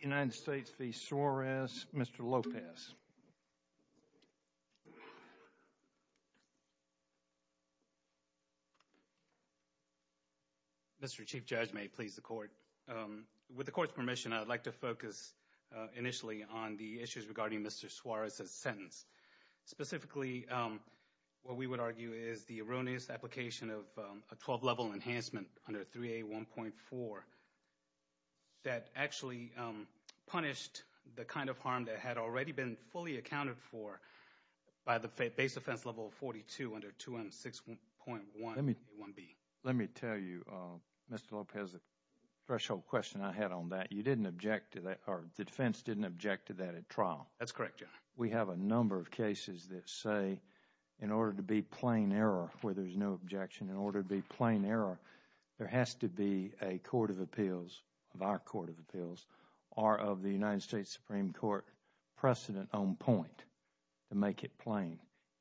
United States v. Suarez. Mr. Lopez Mr. Chief Judge, may it please the court. With the court's permission, I'd like to focus initially on the issues regarding Mr. Suarez's sentence. Specifically, what we would argue is the erroneous application of a punished the kind of harm that had already been fully accounted for by the base offense level 42 under 216.1. Let me let me tell you Mr. Lopez a threshold question I had on that. You didn't object to that or the defense didn't object to that at trial. That's correct. We have a number of cases that say in order to be plain error where there's no objection in order to be plain error there has to be a Court of Appeals of our Court of Appeals or of the United States Supreme Court precedent on point to make it plain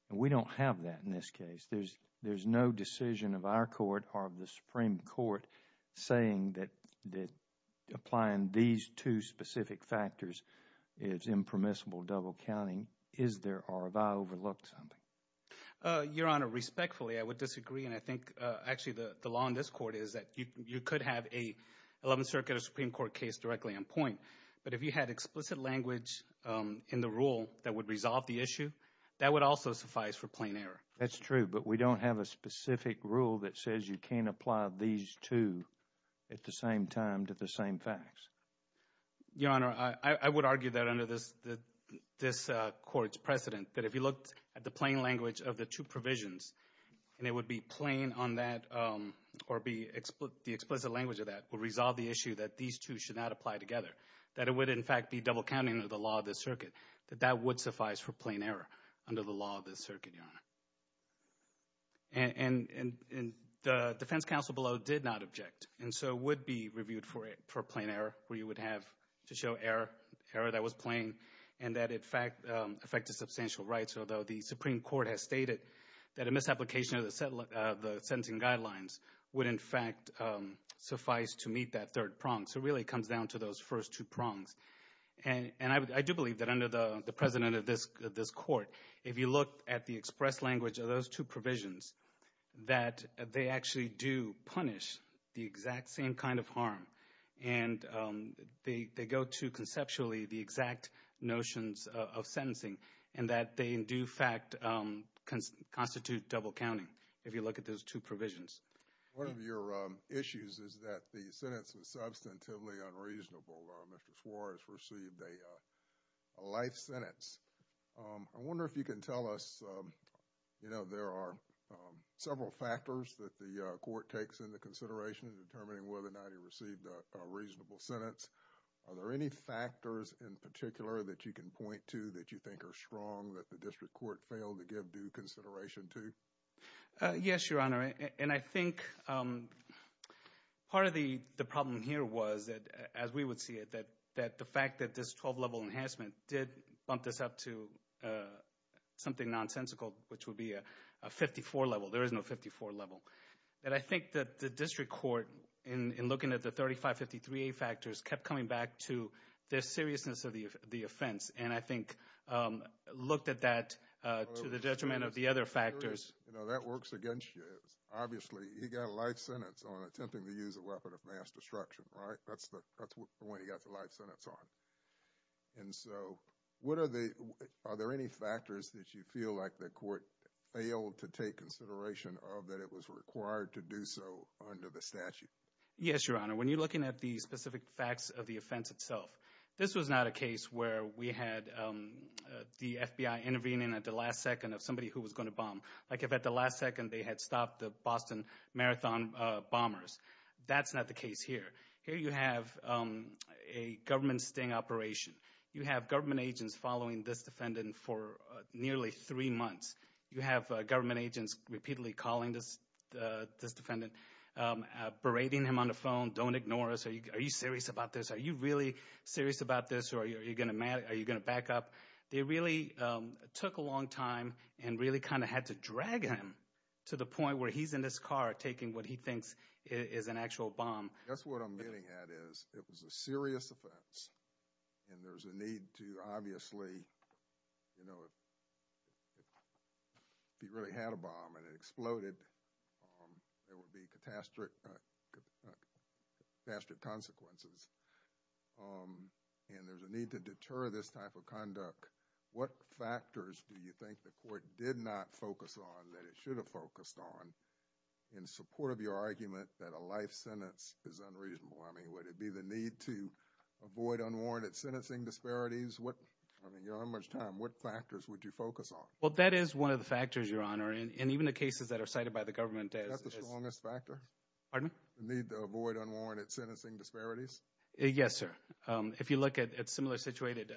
and we don't have that in this case. There's there's no decision of our court or of the Supreme Court saying that that applying these two specific factors is impermissible double counting is there or have I overlooked something? Your Honor, respectfully I would disagree and I think actually the law in this court is that you could have a 11th Circuit or Supreme Court case directly on point but if you had explicit language in the rule that would resolve the issue that would also suffice for plain error. That's true but we don't have a specific rule that says you can't apply these two at the same time to the same facts. Your Honor, I would argue that under this this court's precedent that if you looked at the plain language of the two provisions and it would be plain on that or be explicit the explicit language of that will resolve the issue that these two should not apply together that it would in fact be double counting of the law of this circuit that that would suffice for plain error under the law of this circuit, Your Honor. And the defense counsel below did not object and so would be reviewed for it for plain error where you would have to show error that was plain and that in fact affected substantial rights although the Supreme Court has stated that a misapplication of the sentencing guidelines would in fact suffice to meet that third prong. So it really comes down to those first two prongs and I do believe that under the precedent of this this court if you look at the express language of those two provisions that they actually do punish the exact same kind of harm and they go to conceptually the exact notions of sentencing and that they in due fact can constitute double counting if you look at those two provisions. One of your issues is that the sentence was substantively unreasonable. Mr. Suarez received a life sentence. I wonder if you can tell us you know there are several factors that the court takes into consideration in determining whether or not he received a reasonable sentence. Are there any factors in particular that you can point to that you think are strong that the district court failed to give due consideration to? Yes, Your Honor. And I think part of the the problem here was that as we would see it that that the fact that this 12 level enhancement did bump this up to something nonsensical which would be a 54 level. There is no 54 level. And I think that the district court in looking at the 3553 factors kept coming back to their seriousness of the offense and I think looked at that to the judgment of the other factors. You know that works against you. Obviously he got a life sentence on attempting to use a weapon of mass destruction, right? That's when he got the life sentence on. And so what are the, are there any factors that you feel like the statute? Yes, Your Honor. When you're looking at the specific facts of the offense itself, this was not a case where we had the FBI intervening at the last second of somebody who was going to bomb. Like if at the last second they had stopped the Boston Marathon bombers. That's not the case here. Here you have a government sting operation. You have government agents following this defendant for nearly three months. You have government agents repeatedly calling this defendant, berating him on the phone. Don't ignore us. Are you serious about this? Are you really serious about this? Or are you going to back up? They really took a long time and really kind of had to drag him to the point where he's in this car taking what he thinks is an actual bomb. That's what I'm getting at is it was a serious offense and there's a need to obviously, you know, if he really had a bomb and it exploded, there would be catastrophic consequences. And there's a need to deter this type of conduct. What factors do you think the court did not focus on that it should have focused on in support of your argument that a life sentence is unreasonable? I mean, would it be the need to avoid unwarranted sentencing disparities? I mean, you don't have much time. What factors would you focus on? Well, that is one of the factors, Your Honor, and even the cases that are cited by the government. Is that the strongest factor? Pardon me? The need to avoid unwarranted sentencing disparities? Yes, sir. If you look at similar situated.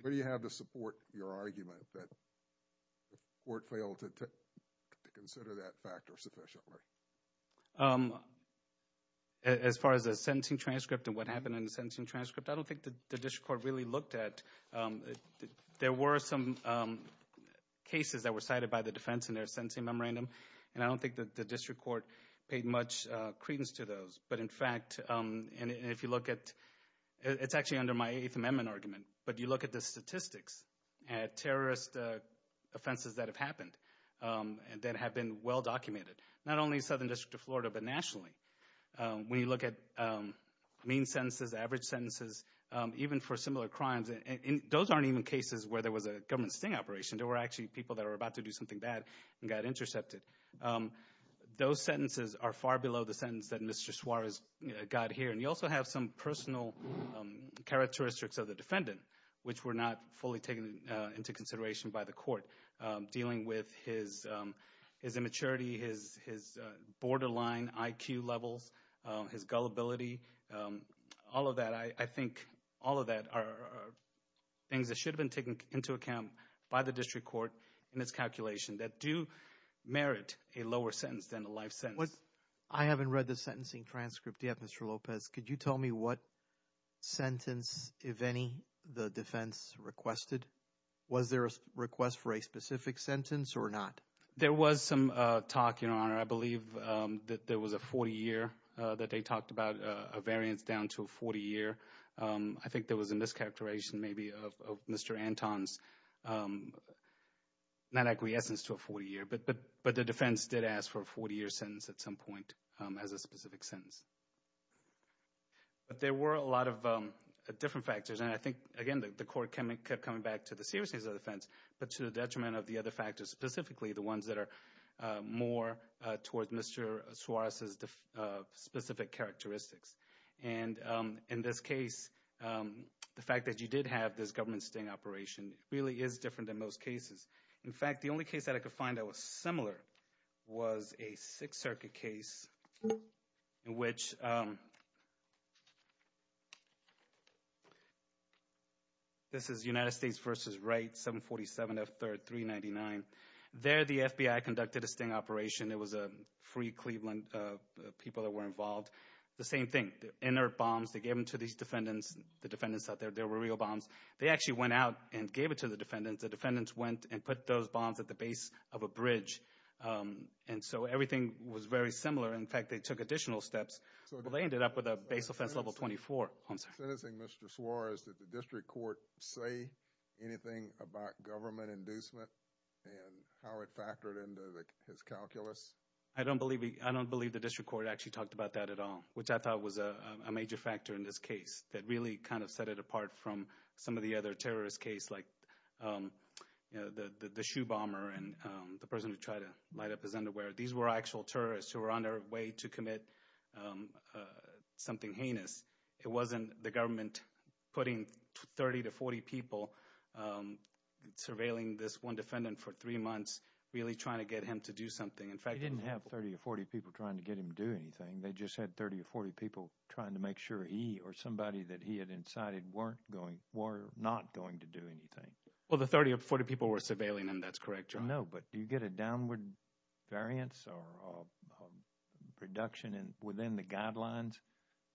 Where do you have to support your argument that the court failed to consider that factor sufficiently? As far as the sentencing transcript and what happened in the case that we looked at, there were some cases that were cited by the defense in their sentencing memorandum and I don't think that the district court paid much credence to those. But in fact, and if you look at, it's actually under my Eighth Amendment argument, but you look at the statistics at terrorist offenses that have happened and that have been well documented, not only in the Southern District of Florida, but nationally. When you look at mean sentences, average crimes, and those aren't even cases where there was a government sting operation. There were actually people that are about to do something bad and got intercepted. Those sentences are far below the sentence that Mr. Suarez got here. And you also have some personal characteristics of the defendant, which were not fully taken into consideration by the court. Dealing with his immaturity, his borderline IQ levels, his gullibility, all of that. I think all of that are things that should have been taken into account by the district court in this calculation that do merit a lower sentence than a life sentence. I haven't read the sentencing transcript yet, Mr. Lopez. Could you tell me what sentence, if any, the defense requested? Was there a request for a specific sentence or not? There was some talk, Your Honor. I believe that there was a 40-year that they talked about, a variance down to a 40-year. I think there was a mischaracterization, maybe, of Mr. Anton's, not acquiescence to a 40-year, but the defense did ask for a 40-year sentence at some point as a specific sentence. But there were a lot of different factors, and I think, again, the court kept coming back to the seriousness of the offense, but to the detriment of the other factors, specifically the ones that are more toward Mr. Suarez's specific characteristics. And in this case, the fact that you did have this government sting operation really is different than most cases. In fact, the only case that I could find that was similar was a Sixth Circuit case in which, this is United States v. Wright, 747 F. 3rd, 399. There, the FBI conducted a sting operation. It was a free Cleveland, people that were involved. The same thing, inert bombs, they gave them to these defendants, the defendants out there, there were real bombs. They actually went out and gave it to the defendants. The defendants went and put those bombs at the base of a bridge. And so, everything was very similar. In fact, they took additional steps. They ended up with a base offense level 24. Sentencing Mr. and how it factored into his calculus. I don't believe I don't believe the district court actually talked about that at all, which I thought was a major factor in this case that really kind of set it apart from some of the other terrorist case like, um, you know, the shoe bomber and the person who tried to light up his underwear. These were actual terrorists who were on their way to commit, um, something heinous. It wasn't the government putting 30 to 40 people, um, surveilling this one defendant for three months, really trying to get him to do something. In fact, I didn't have 30 or 40 people trying to get him doing anything. They just had 30 or 40 people trying to make sure he or somebody that he had incited weren't going. We're not going to do anything. Well, the 30 or 40 people were surveilling and that's correct. I know. But do you get a downward variance or reduction within the guidelines,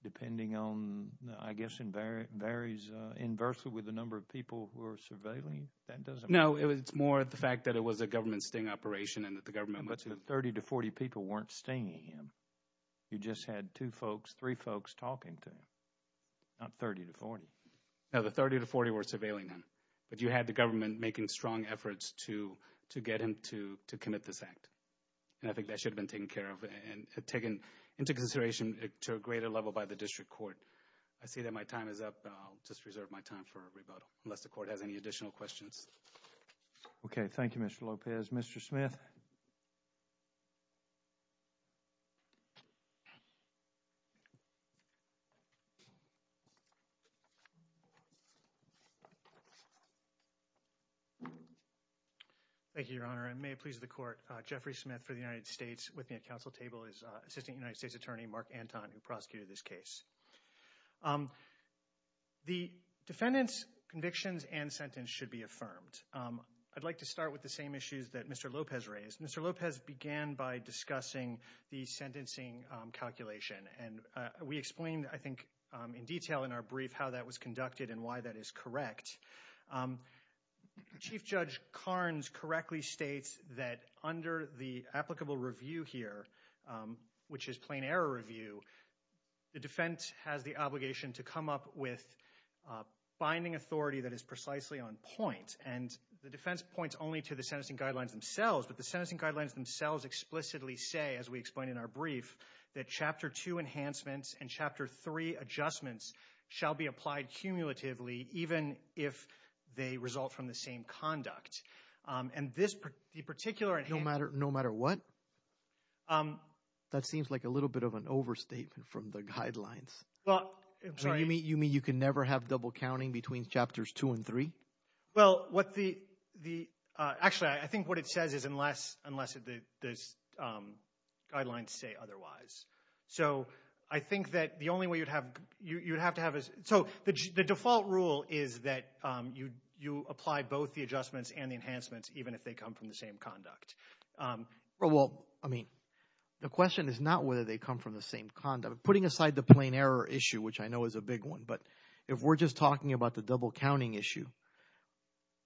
depending on, I guess, invariant varies inversely with the number of people who are surveilling. That doesn't know. It was more of the fact that it was a government sting operation and that the government, but 30 to 40 people weren't staying in. You just had two folks, three folks talking to him, not 30 to 40. Now, the 30 to 40 were surveilling him, but you had the government making strong efforts to get him to commit this act, and I think that should have been taken care of and taken into consideration to a greater level by the district court. I see that my time is up. I'll just reserve my time for a rebuttal unless the court has any additional questions. Okay. Thank you, Mr Lopez. Mr Smith. Thank you, Your Honor. I may please the court. Jeffrey Smith for the United States with me. A council table is assisting United States Attorney Mark Anton who prosecuted this case. The defendant's convictions and sentence should be affirmed. I'd like to start with the same issues that Mr Lopez raised. Mr Lopez began by discussing the sentencing calculation, and we explained, I think, in detail in our brief how that was conducted and why that is correct. Chief Judge Carnes correctly states that under the The defense has the obligation to come up with binding authority that is precisely on point, and the defense points only to the sentencing guidelines themselves, but the sentencing guidelines themselves explicitly say, as we explained in our brief, that Chapter 2 enhancements and Chapter 3 adjustments shall be applied cumulatively even if they result from the same conduct, and this particular... No matter what? That seems like a little bit of an overstatement from the guidelines. You mean you can never have double counting between Chapters 2 and 3? Well, what the... Actually, I think what it says is unless the guidelines say otherwise. So, I think that the only way you'd have to have is... So, the default rule is that you apply both the adjustments and the enhancements even if they come from the same conduct. Well, I mean, the question is not whether they come from the same conduct. Putting aside the plain error issue, which I know is a big one, but if we're just talking about the double counting issue,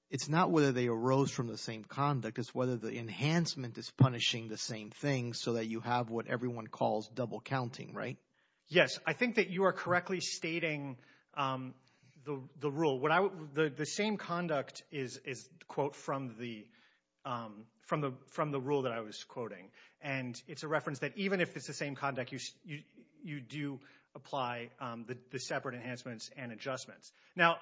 it's not whether they arose from the same conduct, it's whether the enhancement is punishing the same thing so that you have what everyone calls double counting, right? Yes, I think that you are correctly stating the rule. The same conduct is, quote, from the rule that I was quoting, and it's a reference that even if it's the same conduct, you do apply the separate enhancements and adjustments. Now,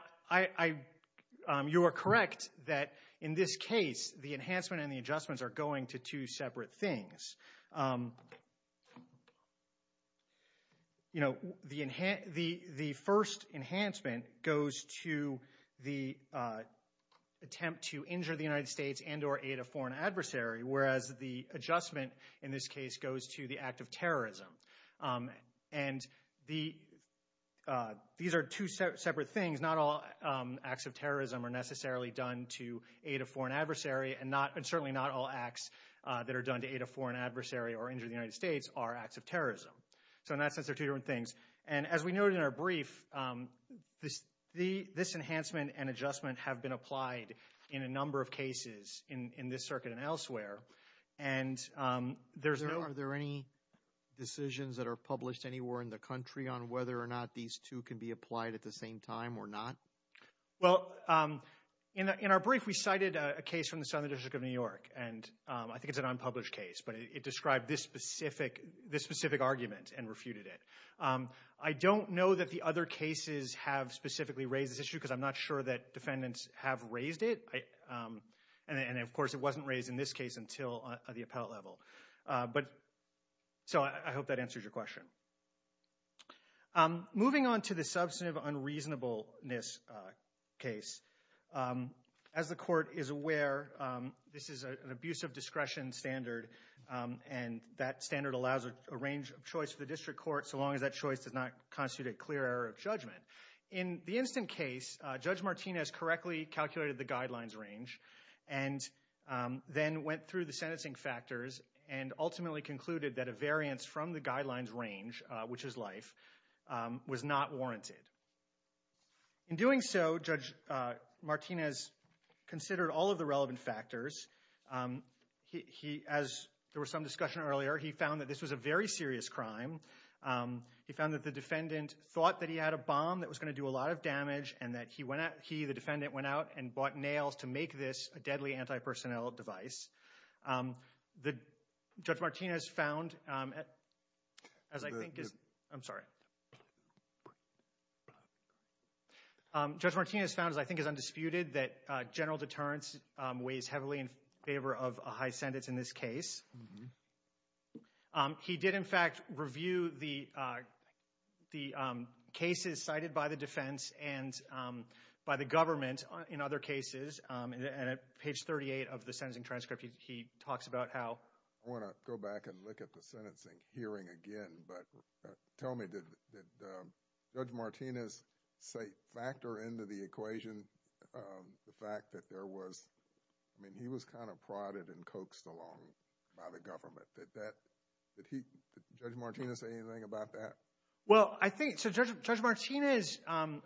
you are correct that in this case, the enhancement and the adjustments are going to two separate things. You know, the first enhancement goes to the attempt to injure the United States and or aid a foreign adversary, whereas the adjustment in this case goes to the act of terrorism. And these are two separate things. Not all acts of terrorism are necessarily done to aid a foreign adversary, and certainly not all acts that are done to aid a foreign adversary or injure the United States are acts of terrorism. So in that sense, they're two different things. And as we noted in our brief, this enhancement and adjustment have been applied in a number of cases in this circuit and elsewhere, and there's no... Are there any decisions that are published anywhere in the country on whether or not these two can be applied at the same time or not? Well, in our brief, we cited a case from the Southern District of New York, and I think it's an unpublished case, but it described this specific argument and refuted it. I don't know that the other cases have specifically raised this issue because I'm not sure that defendants have raised it, and of course it wasn't raised in this case until the appellate level. So I hope that the court is aware this is an abuse of discretion standard, and that standard allows a range of choice for the district court so long as that choice does not constitute a clear error of judgment. In the instant case, Judge Martinez correctly calculated the guidelines range and then went through the sentencing factors and ultimately concluded that a variance from the guidelines range, which is life, was not warranted. In doing so, Judge Martinez considered all of the relevant factors. As there was some discussion earlier, he found that this was a very serious crime. He found that the defendant thought that he had a bomb that was going to do a lot of damage, and that he, the defendant, went out and bought nails to make this a deadly anti-personnel device. Judge Martinez found, as I think is undisputed, that general deterrence weighs heavily in favor of a high sentence in this case. He did, in fact, review the cases cited by the defense and by the government in other cases, and at page 38 of the sentencing transcript, he talks about how I want to go back and look at the sentencing hearing again, but tell me did Judge Martinez factor into the equation the fact that there was, I mean, he was kind of prodded and coaxed along by the government. Did that, did he, did Judge Martinez say anything about that? Well, I think, so Judge Martinez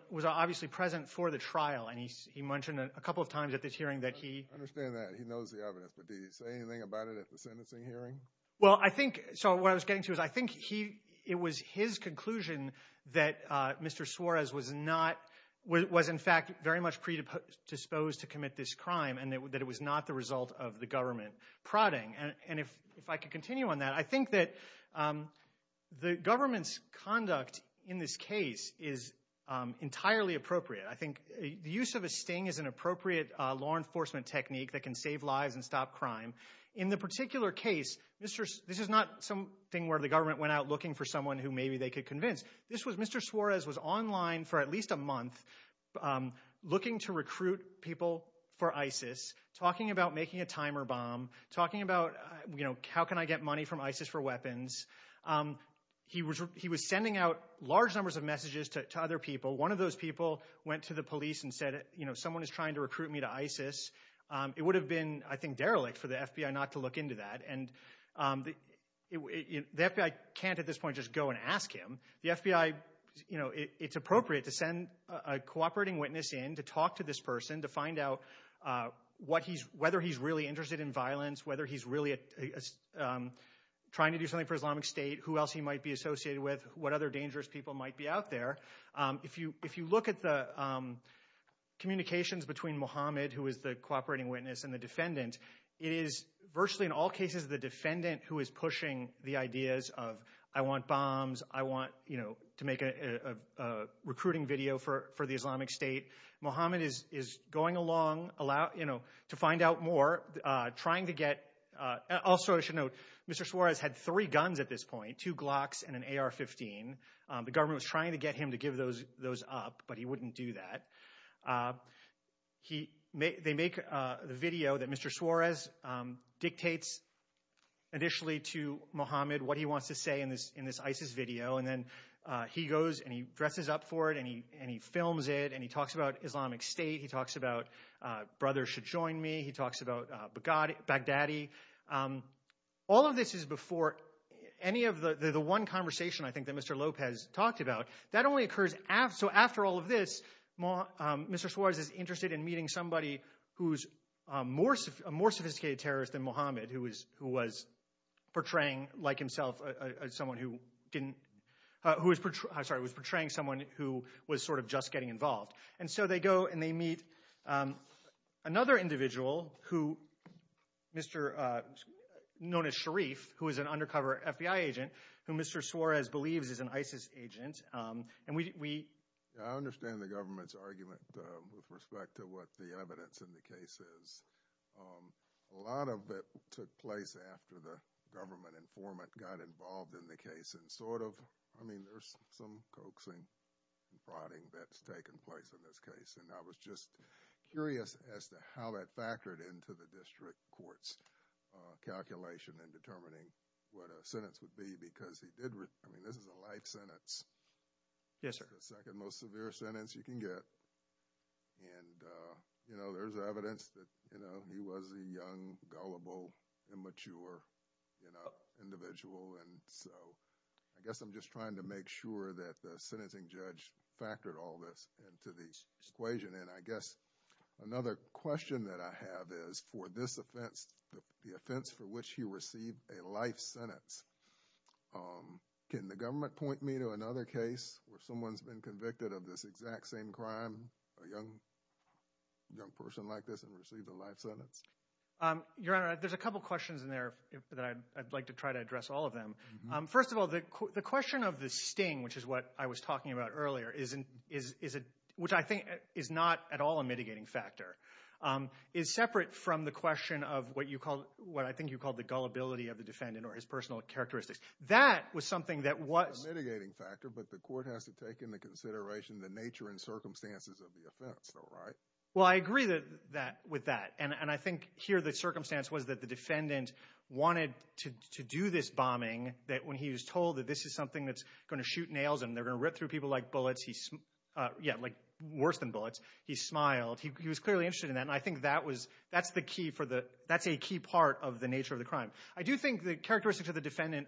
was obviously present for the trial, and he mentioned a couple of times at this hearing that he understand that he knows the evidence, but did he say anything about it at the sentencing hearing? Well, I think, so what I was getting to is, I think he, it was his conclusion that Mr. Suarez was not, was in fact very much predisposed to commit this crime, and that it was not the result of the government prodding. And if I could continue on that, I think that the government's conduct in this case is entirely appropriate. I think the use of a sting is an appropriate law enforcement technique that can save lives and stop crime. In the particular case, this is not something where the government went out looking for people that maybe they could convince. This was, Mr. Suarez was online for at least a month looking to recruit people for ISIS, talking about making a timer bomb, talking about, you know, how can I get money from ISIS for weapons. He was, he was sending out large numbers of messages to other people. One of those people went to the police and said, you know, someone is trying to recruit me to ISIS. It would have been, I think, derelict for the FBI not to look into that. And the FBI can't at this point just go and ask him. The FBI, you know, it's appropriate to send a cooperating witness in to talk to this person to find out what he's, whether he's really interested in violence, whether he's really trying to do something for Islamic State, who else he might be associated with, what other dangerous people might be out there. If you, if you look at the communications between Mohammed, who is the cooperating witness, and the defendant, it is virtually in all cases the defendant who is pushing the ideas of, I want bombs, I want, you know, to make a recruiting video for, for the Islamic State. Mohammed is, is going along, allow, you know, to find out more, trying to get, also I should note, Mr. Suarez had three guns at this point, two Glocks and an AR-15. The government was trying to get him to give those, those up, but he wouldn't do that. He, they make the video that Mr. Suarez dictates initially to Mohammed, what he wants to say in this, in this ISIS video, and then he goes and he dresses up for it, and he, and he films it, and he talks about Islamic State, he talks about brothers should join me, he talks about Baghdadi. All of this is before any of the, the one conversation, I think, that Mr. Lopez has talked about. That only occurs after, so after all of this, Mr. Suarez is interested in meeting somebody who's more, a more sophisticated terrorist than Mohammed, who was, who was portraying like himself, someone who didn't, who was, I'm sorry, was portraying someone who was sort of just getting involved. And so they go and they meet another individual who, Mr., known as Sharif, who is an ISIS agent, and we, we... I understand the government's argument with respect to what the evidence in the case is. A lot of it took place after the government informant got involved in the case, and sort of, I mean, there's some coaxing and prodding that's taken place in this case, and I was just curious as to how that factored into the district court's calculation in determining what a life sentence. Yes, sir. The second most severe sentence you can get, and, you know, there's evidence that, you know, he was a young, gullible, immature, you know, individual, and so I guess I'm just trying to make sure that the sentencing judge factored all this into the equation. And I guess another question that I have is for this offense, the offense for which he received a life sentence. Can the government point me to another case where someone's been convicted of this exact same crime, a young person like this, and received a life sentence? Your Honor, there's a couple questions in there that I'd like to try to address all of them. First of all, the question of the sting, which is what I was talking about earlier, which I think is not at all a mitigating factor, is separate from the question of what you call, what I think you called the gullibility of the defendant or his personal characteristics. That was something that was a mitigating factor, but the court has to take into consideration the nature and circumstances of the offense, though, right? Well, I agree with that, and I think here the circumstance was that the defendant wanted to do this bombing, that when he was told that this is something that's gonna shoot nails and they're gonna rip through people like bullets, he, yeah, like worse than bullets, he smiled. He was clearly interested in that, and I think that was, that's the key for the, that's a key part of the nature of the crime. I do think the characteristics of the defendant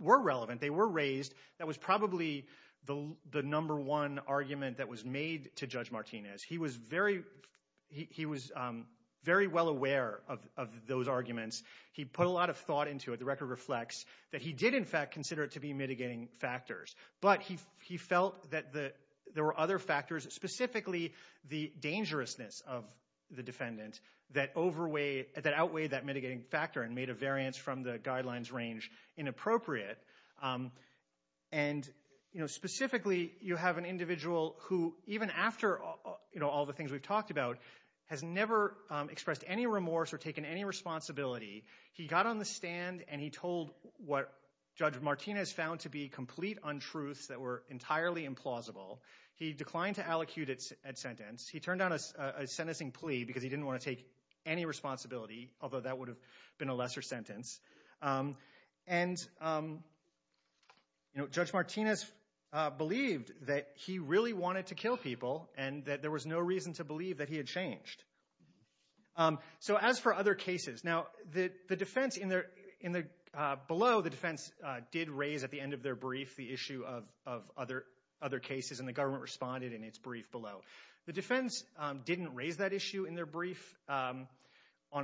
were relevant. They were raised. That was probably the number one argument that was made to Judge Martinez. He was very, he was very well aware of those arguments. He put a lot of thought into it. The record reflects that he did, in fact, consider it to be mitigating factors, but he felt that there were other factors, specifically the dangerousness of the defendant, that overweighed, that outweighed that mitigating factor and made a variance from the guidelines range inappropriate. And, you know, specifically, you have an individual who, even after, you know, all the things we've talked about, has never expressed any remorse or taken any responsibility. He got on the stand and he told what Judge Martinez found to be complete untruths that were entirely implausible. He declined to allocute a sentence. He turned down a sentencing plea because he didn't want to take any responsibility, although that would have been a lesser sentence. And, you know, Judge Martinez believed that he really wanted to kill people and that there was no reason to believe that he had changed. So, as for other cases, now, the defense in their, in the, below the defense did raise at the end of their brief the issue of other, other cases and the issue in their brief on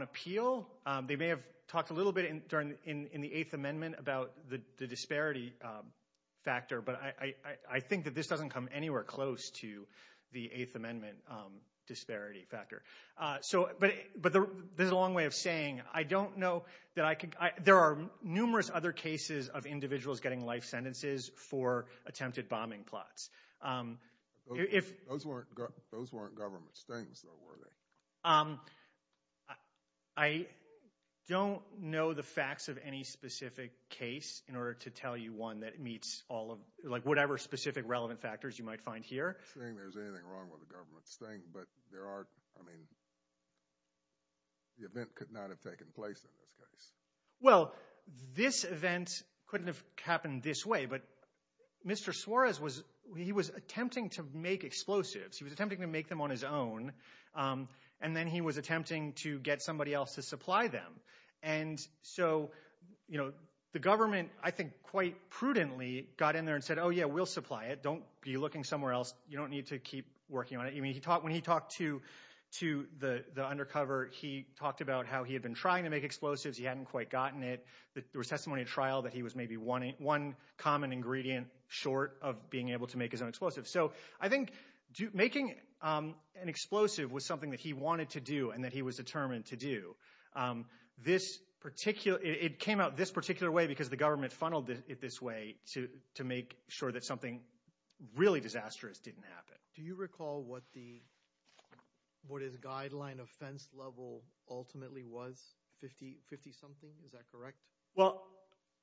appeal. They may have talked a little bit in, during, in the Eighth Amendment about the disparity factor, but I think that this doesn't come anywhere close to the Eighth Amendment disparity factor. So, but, but there's a long way of saying, I don't know that I can, there are numerous other cases of individuals getting life sentences for attempted bombing plots. Those weren't government stings, though, were they? I don't know the facts of any specific case in order to tell you one that meets all of, like, whatever specific relevant factors you might find here. I don't think there's anything wrong with a government sting, but there are, I mean, the event could not have taken place in this case. Well, this event couldn't have happened this way, but Mr. Suarez was, he was attempting to make explosives. He was attempting to make them on his own, and then he was attempting to get somebody else to supply them. And so, you know, the government, I think, quite prudently got in there and said, oh yeah, we'll supply it. Don't be looking somewhere else. You don't need to keep working on it. I mean, he talked, when he talked to, to the, the undercover, he talked about how he had been trying to make explosives. He hadn't quite gotten it. There was testimony at trial that he was maybe one, one common ingredient short of being able to make his own explosive. So I think making an explosive was something that he wanted to do and that he was determined to do. This particular, it came out this particular way because the government funneled it this way to, to make sure that something really disastrous didn't happen. Do you recall what the, what his guideline offense level ultimately was? 50, 50-something? Is that correct? Well,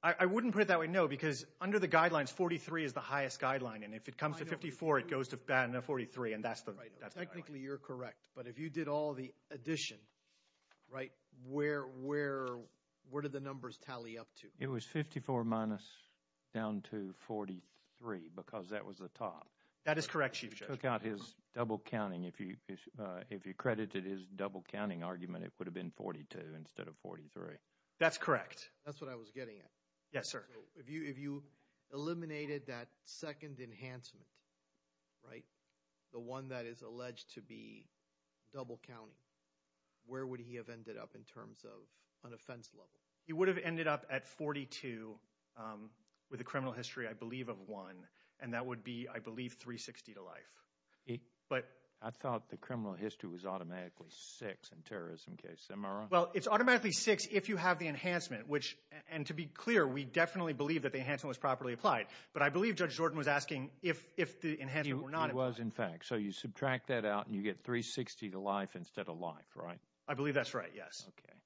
I wouldn't put it that way, no, because under the guidelines, 43 is the highest guideline, and if it comes to 54, it goes to 43, and that's the, that's the guideline. Technically, you're correct, but if you did all the addition, right, where, where, where did the numbers tally up to? It was 54 minus down to 43 because that was the top. That is correct, Chief Judge. Took out his double-counting. If you, if you credited his double-counting argument, it would have been 42 instead of 43. That's correct. That's what I was getting at. Yes, sir. If you, if you eliminated that second enhancement, right, the one that is alleged to be double-counting, where would he have ended up in terms of an offense level? He would have ended up at 42 with a criminal history, I believe, of 1, and that would be, I believe, 360 to life, but... I thought the criminal history was automatically 6 in terrorism case. Am I wrong? Well, it's automatically 6 if you have the enhancement, which, and to be clear, we definitely believe that the enhancement was properly applied, but I believe Judge Jordan was asking if, if the enhancement were not. It was, in fact, so you subtract that out, and you get 360 to life instead of life, right? I believe that's right, yes. Okay.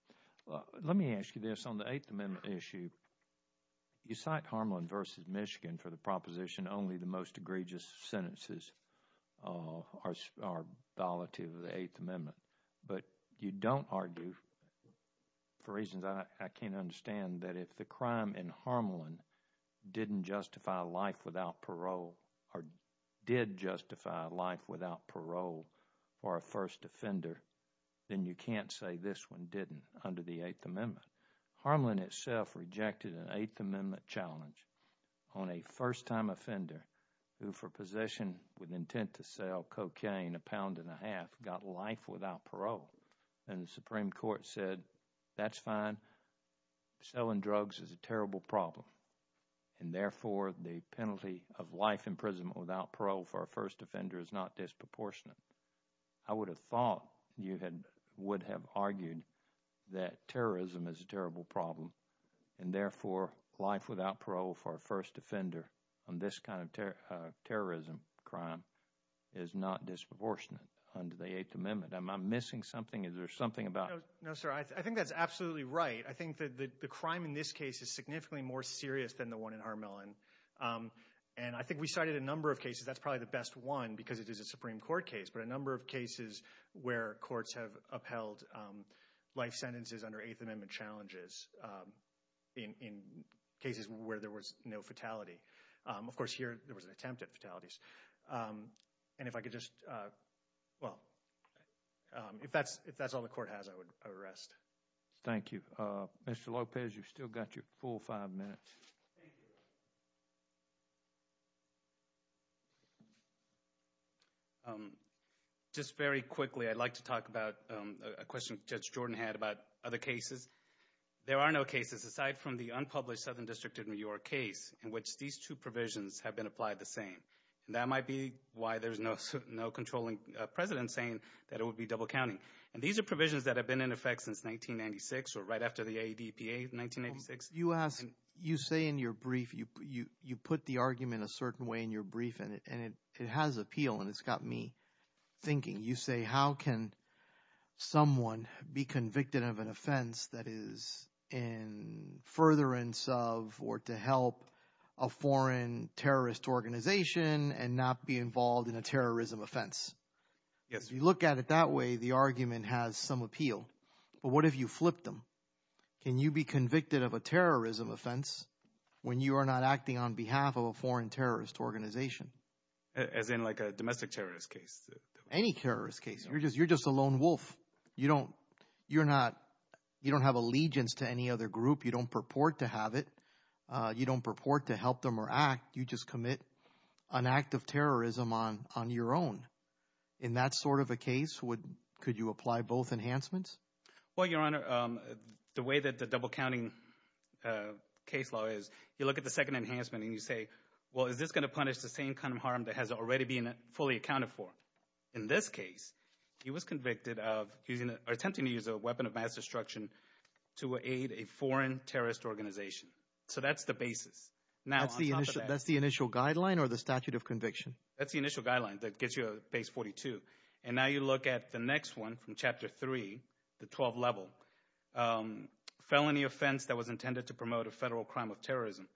Well, let me ask you this. On the Eighth Amendment issue, you cite Harmelin v. Michigan for the proposition only the most egregious sentences are, are violative of the Eighth Amendment, but you don't argue, for reasons I can't understand, that if the crime in Harmelin didn't justify life without parole, or did justify life without parole for a first offender, then you can't say this one didn't under the Eighth Amendment. Harmelin itself rejected an Eighth Amendment challenge on a first-time offender who, for possession with intent to sell cocaine a pound and a half, got life without parole, and the Supreme Court said, that's fine. Selling drugs is a terrible problem, and therefore, the penalty of life imprisonment without parole for a first offender is not disproportionate. I would have thought you had, would have argued that terrorism is a terrible problem, and therefore, life without parole for a first offender on this kind of terrorism crime is not disproportionate under the Eighth Amendment. Am I missing something? Is there something about? No, sir. I think that's absolutely right. I think that the crime in this case is significantly more serious than the one in Harmelin, and I think we cited a number of cases, that's probably the best one, because it is a life sentences under Eighth Amendment challenges in cases where there was no fatality. Of course, here, there was an attempt at fatalities, and if I could just, well, if that's all the court has, I would arrest. Thank you. Mr. Lopez, you've still got your full five minutes. Thank you. Just very quickly, I'd like to talk about a question Judge Jordan had about other cases. There are no cases, aside from the unpublished Southern District of New York case, in which these two provisions have been applied the same. That might be why there's no controlling president saying that it would be double counting, and these are provisions that have been in effect since 1996, or right after the ADPA of 1996. You ask, you say in your brief, you put the argument a certain way in your brief, and it has appeal, and it's got me thinking. You say, how can someone be convicted of an offense that is in furtherance of, or to help a foreign terrorist organization, and not be involved in a terrorism offense? Yes. You look at it that way, the argument has some appeal, but what if you flip them? Can you be convicted of a terrorism offense, when you are not acting on behalf of a foreign terrorist organization? As in like a domestic terrorist case? Any terrorist case. You're just, you're just a lone wolf. You don't, you're not, you don't have allegiance to any other group. You don't purport to have it. You don't purport to help them or act. You just commit an act of terrorism on, on your own. In that sort of a case, would, could you apply both enhancements? Well, Your Honor, the way that the double-counting case law is, you look at the second enhancement, and you say, well, is this going to punish the same kind of harm that has already been fully accounted for? In this case, he was convicted of using, or attempting to use a weapon of mass destruction to aid a foreign terrorist organization. So that's the basis. Now, that's the initial, that's the initial guideline or the statute of conviction? That's the initial guideline that gives you a base 42, and now you look at the next one from Chapter 3, the 12 level, felony offense that was intended to promote a federal crime of terrorism,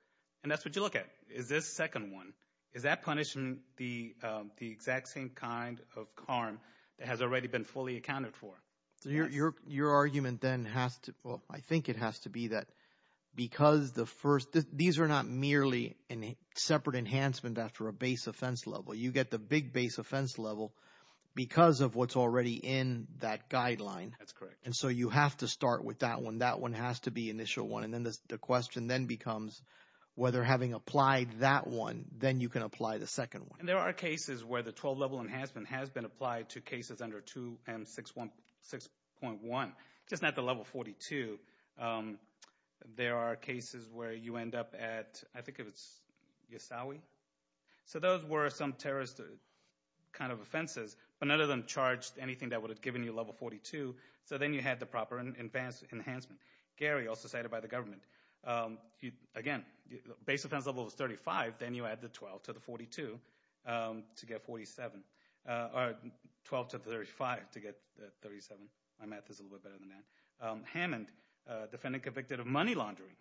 and that's what you look at. Is this second one, is that punishing the, the exact same kind of harm that has already been fully accounted for? Your, your, your argument then has to, well, I think it has to be that because the first, these are not merely a separate enhancement after a base offense level. You get the big base offense level because of what's already in that guideline. That's correct. And so you have to start with that one. That one has to be initial one, and then the question then becomes whether having applied that one, then you can apply the second one. And there are cases where the 12 level enhancement has been applied to cases under 2M6.1, just not the level 42. There are cases where you end up at, I don't know the kind of offenses, but none of them charged anything that would have given you a level 42, so then you had the proper and advanced enhancement. Gary, also cited by the government, again, base offense level is 35, then you add the 12 to the 42 to get 47, or 12 to 35 to get 37. My math is a little bit better than that. Hammond, defendant convicted of money laundering,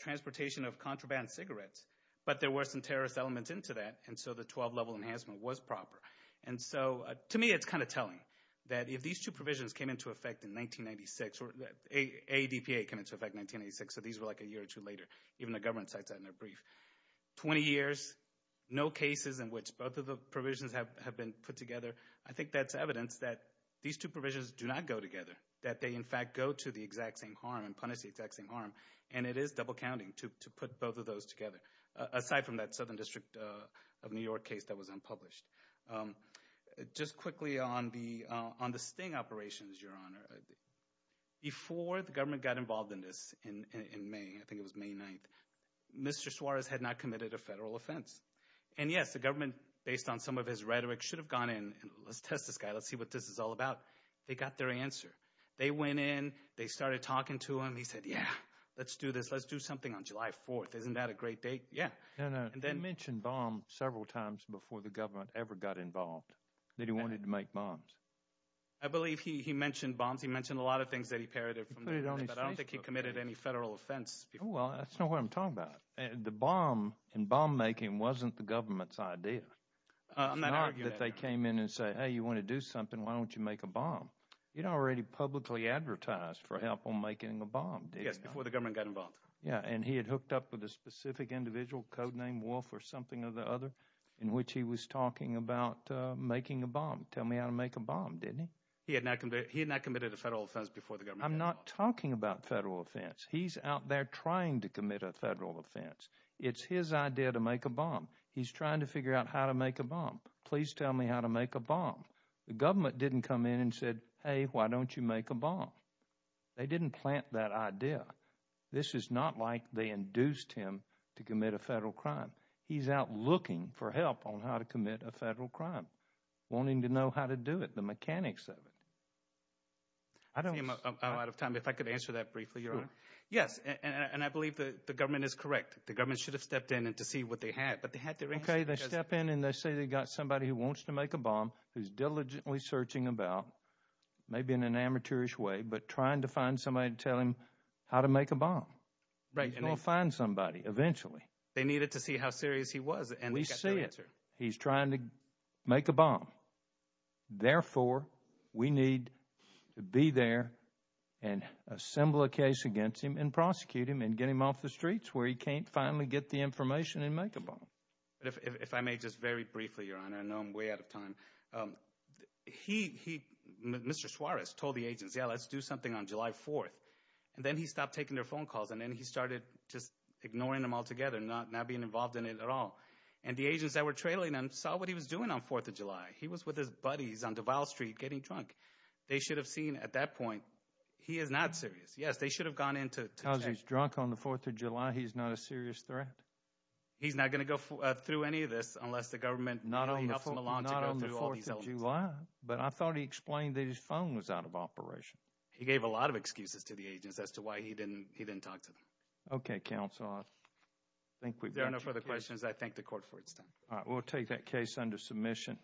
transportation of contraband cigarettes, but there were some terrorist elements into that, and so the 12 level enhancement was proper. And so, to me, it's kind of telling that if these two provisions came into effect in 1996, or ADPA came into effect in 1996, so these were like a year or two later, even the government cites that in their brief. 20 years, no cases in which both of the provisions have been put together, I think that's evidence that these two provisions do not go together, that they in fact go to the exact same harm and punish the exact same harm, and it is double counting to put both of those together, aside from that Southern District of New York case that was unpublished. Just quickly on the sting operations, your honor, before the government got involved in this in May, I think it was May 9th, Mr. Suarez had not committed a federal offense. And yes, the government, based on some of his rhetoric, should have gone in and let's test this guy, let's see what this is all about. They got their answer. They went in, they started talking to him, he said, yeah, let's do this, let's do something on July 4th, isn't that a great date? Yeah. You mentioned bomb several times before the government ever got involved, that he wanted to make bombs. I believe he mentioned bombs, he mentioned a lot of things that he parodied, but I don't think he committed any federal offense. Well, that's not what I'm talking about. The bomb and bomb-making wasn't the government's idea. It's not that they came in and said, hey, you want to do something, why don't you make a bomb? You'd already publicly advertised for help on making a bomb. Yes, before the government got involved. Yeah, and he had hooked up with a specific individual, codename Wolf or something of the other, in which he was talking about making a bomb. Tell me how to make a bomb, didn't he? He had not committed a federal offense before the government. I'm not talking about federal offense. He's out there trying to commit a federal offense. It's his idea to make a bomb. He's trying to figure out how to make a bomb. Please tell me how to make a bomb. The government didn't come in and said, hey, why don't you make a bomb? They didn't plant that idea. This is not like they induced him to commit a federal crime. He's out looking for help on how to commit a federal crime, wanting to know how to do it, the mechanics of it. I don't... I'm out of time. If I could answer that briefly, Your Honor. Yes, and I believe that the government is correct. The government should have stepped in and to see what they had, but they had their answer. Okay, they step in and they say they got somebody who wants to make a bomb, who's diligently searching about, maybe in an amateurish way, but trying to find somebody to tell him how to make a bomb. He's going to find somebody eventually. They needed to see how serious he was and we see it. He's trying to make a bomb. Therefore, we need to be there and assemble a case against him and prosecute him and get him off the streets where he can't finally get the information and make a bomb. If I may just very briefly, Your Honor, I know I'm way out of time. He, Mr. Suarez, told the agents, yeah, let's do something on July 4th, and then he stopped taking their phone calls, and then he started just ignoring them altogether, not being involved in it at all, and the agents that were trailing him saw what he was doing on 4th of July. He was with his buddies on Duval Street getting drunk. They should have seen at that point he is not serious. Yes, they should have gone in to check. Because he's drunk on the 4th of July, he's not a serious threat? He's not going to go through any of this unless the government... Not on the 4th of July, but I thought he explained that his phone was out of operation. He gave a lot of Okay, counsel. I think we've... If there are no further questions, I thank the court for its time. All right, we'll take that case under submission.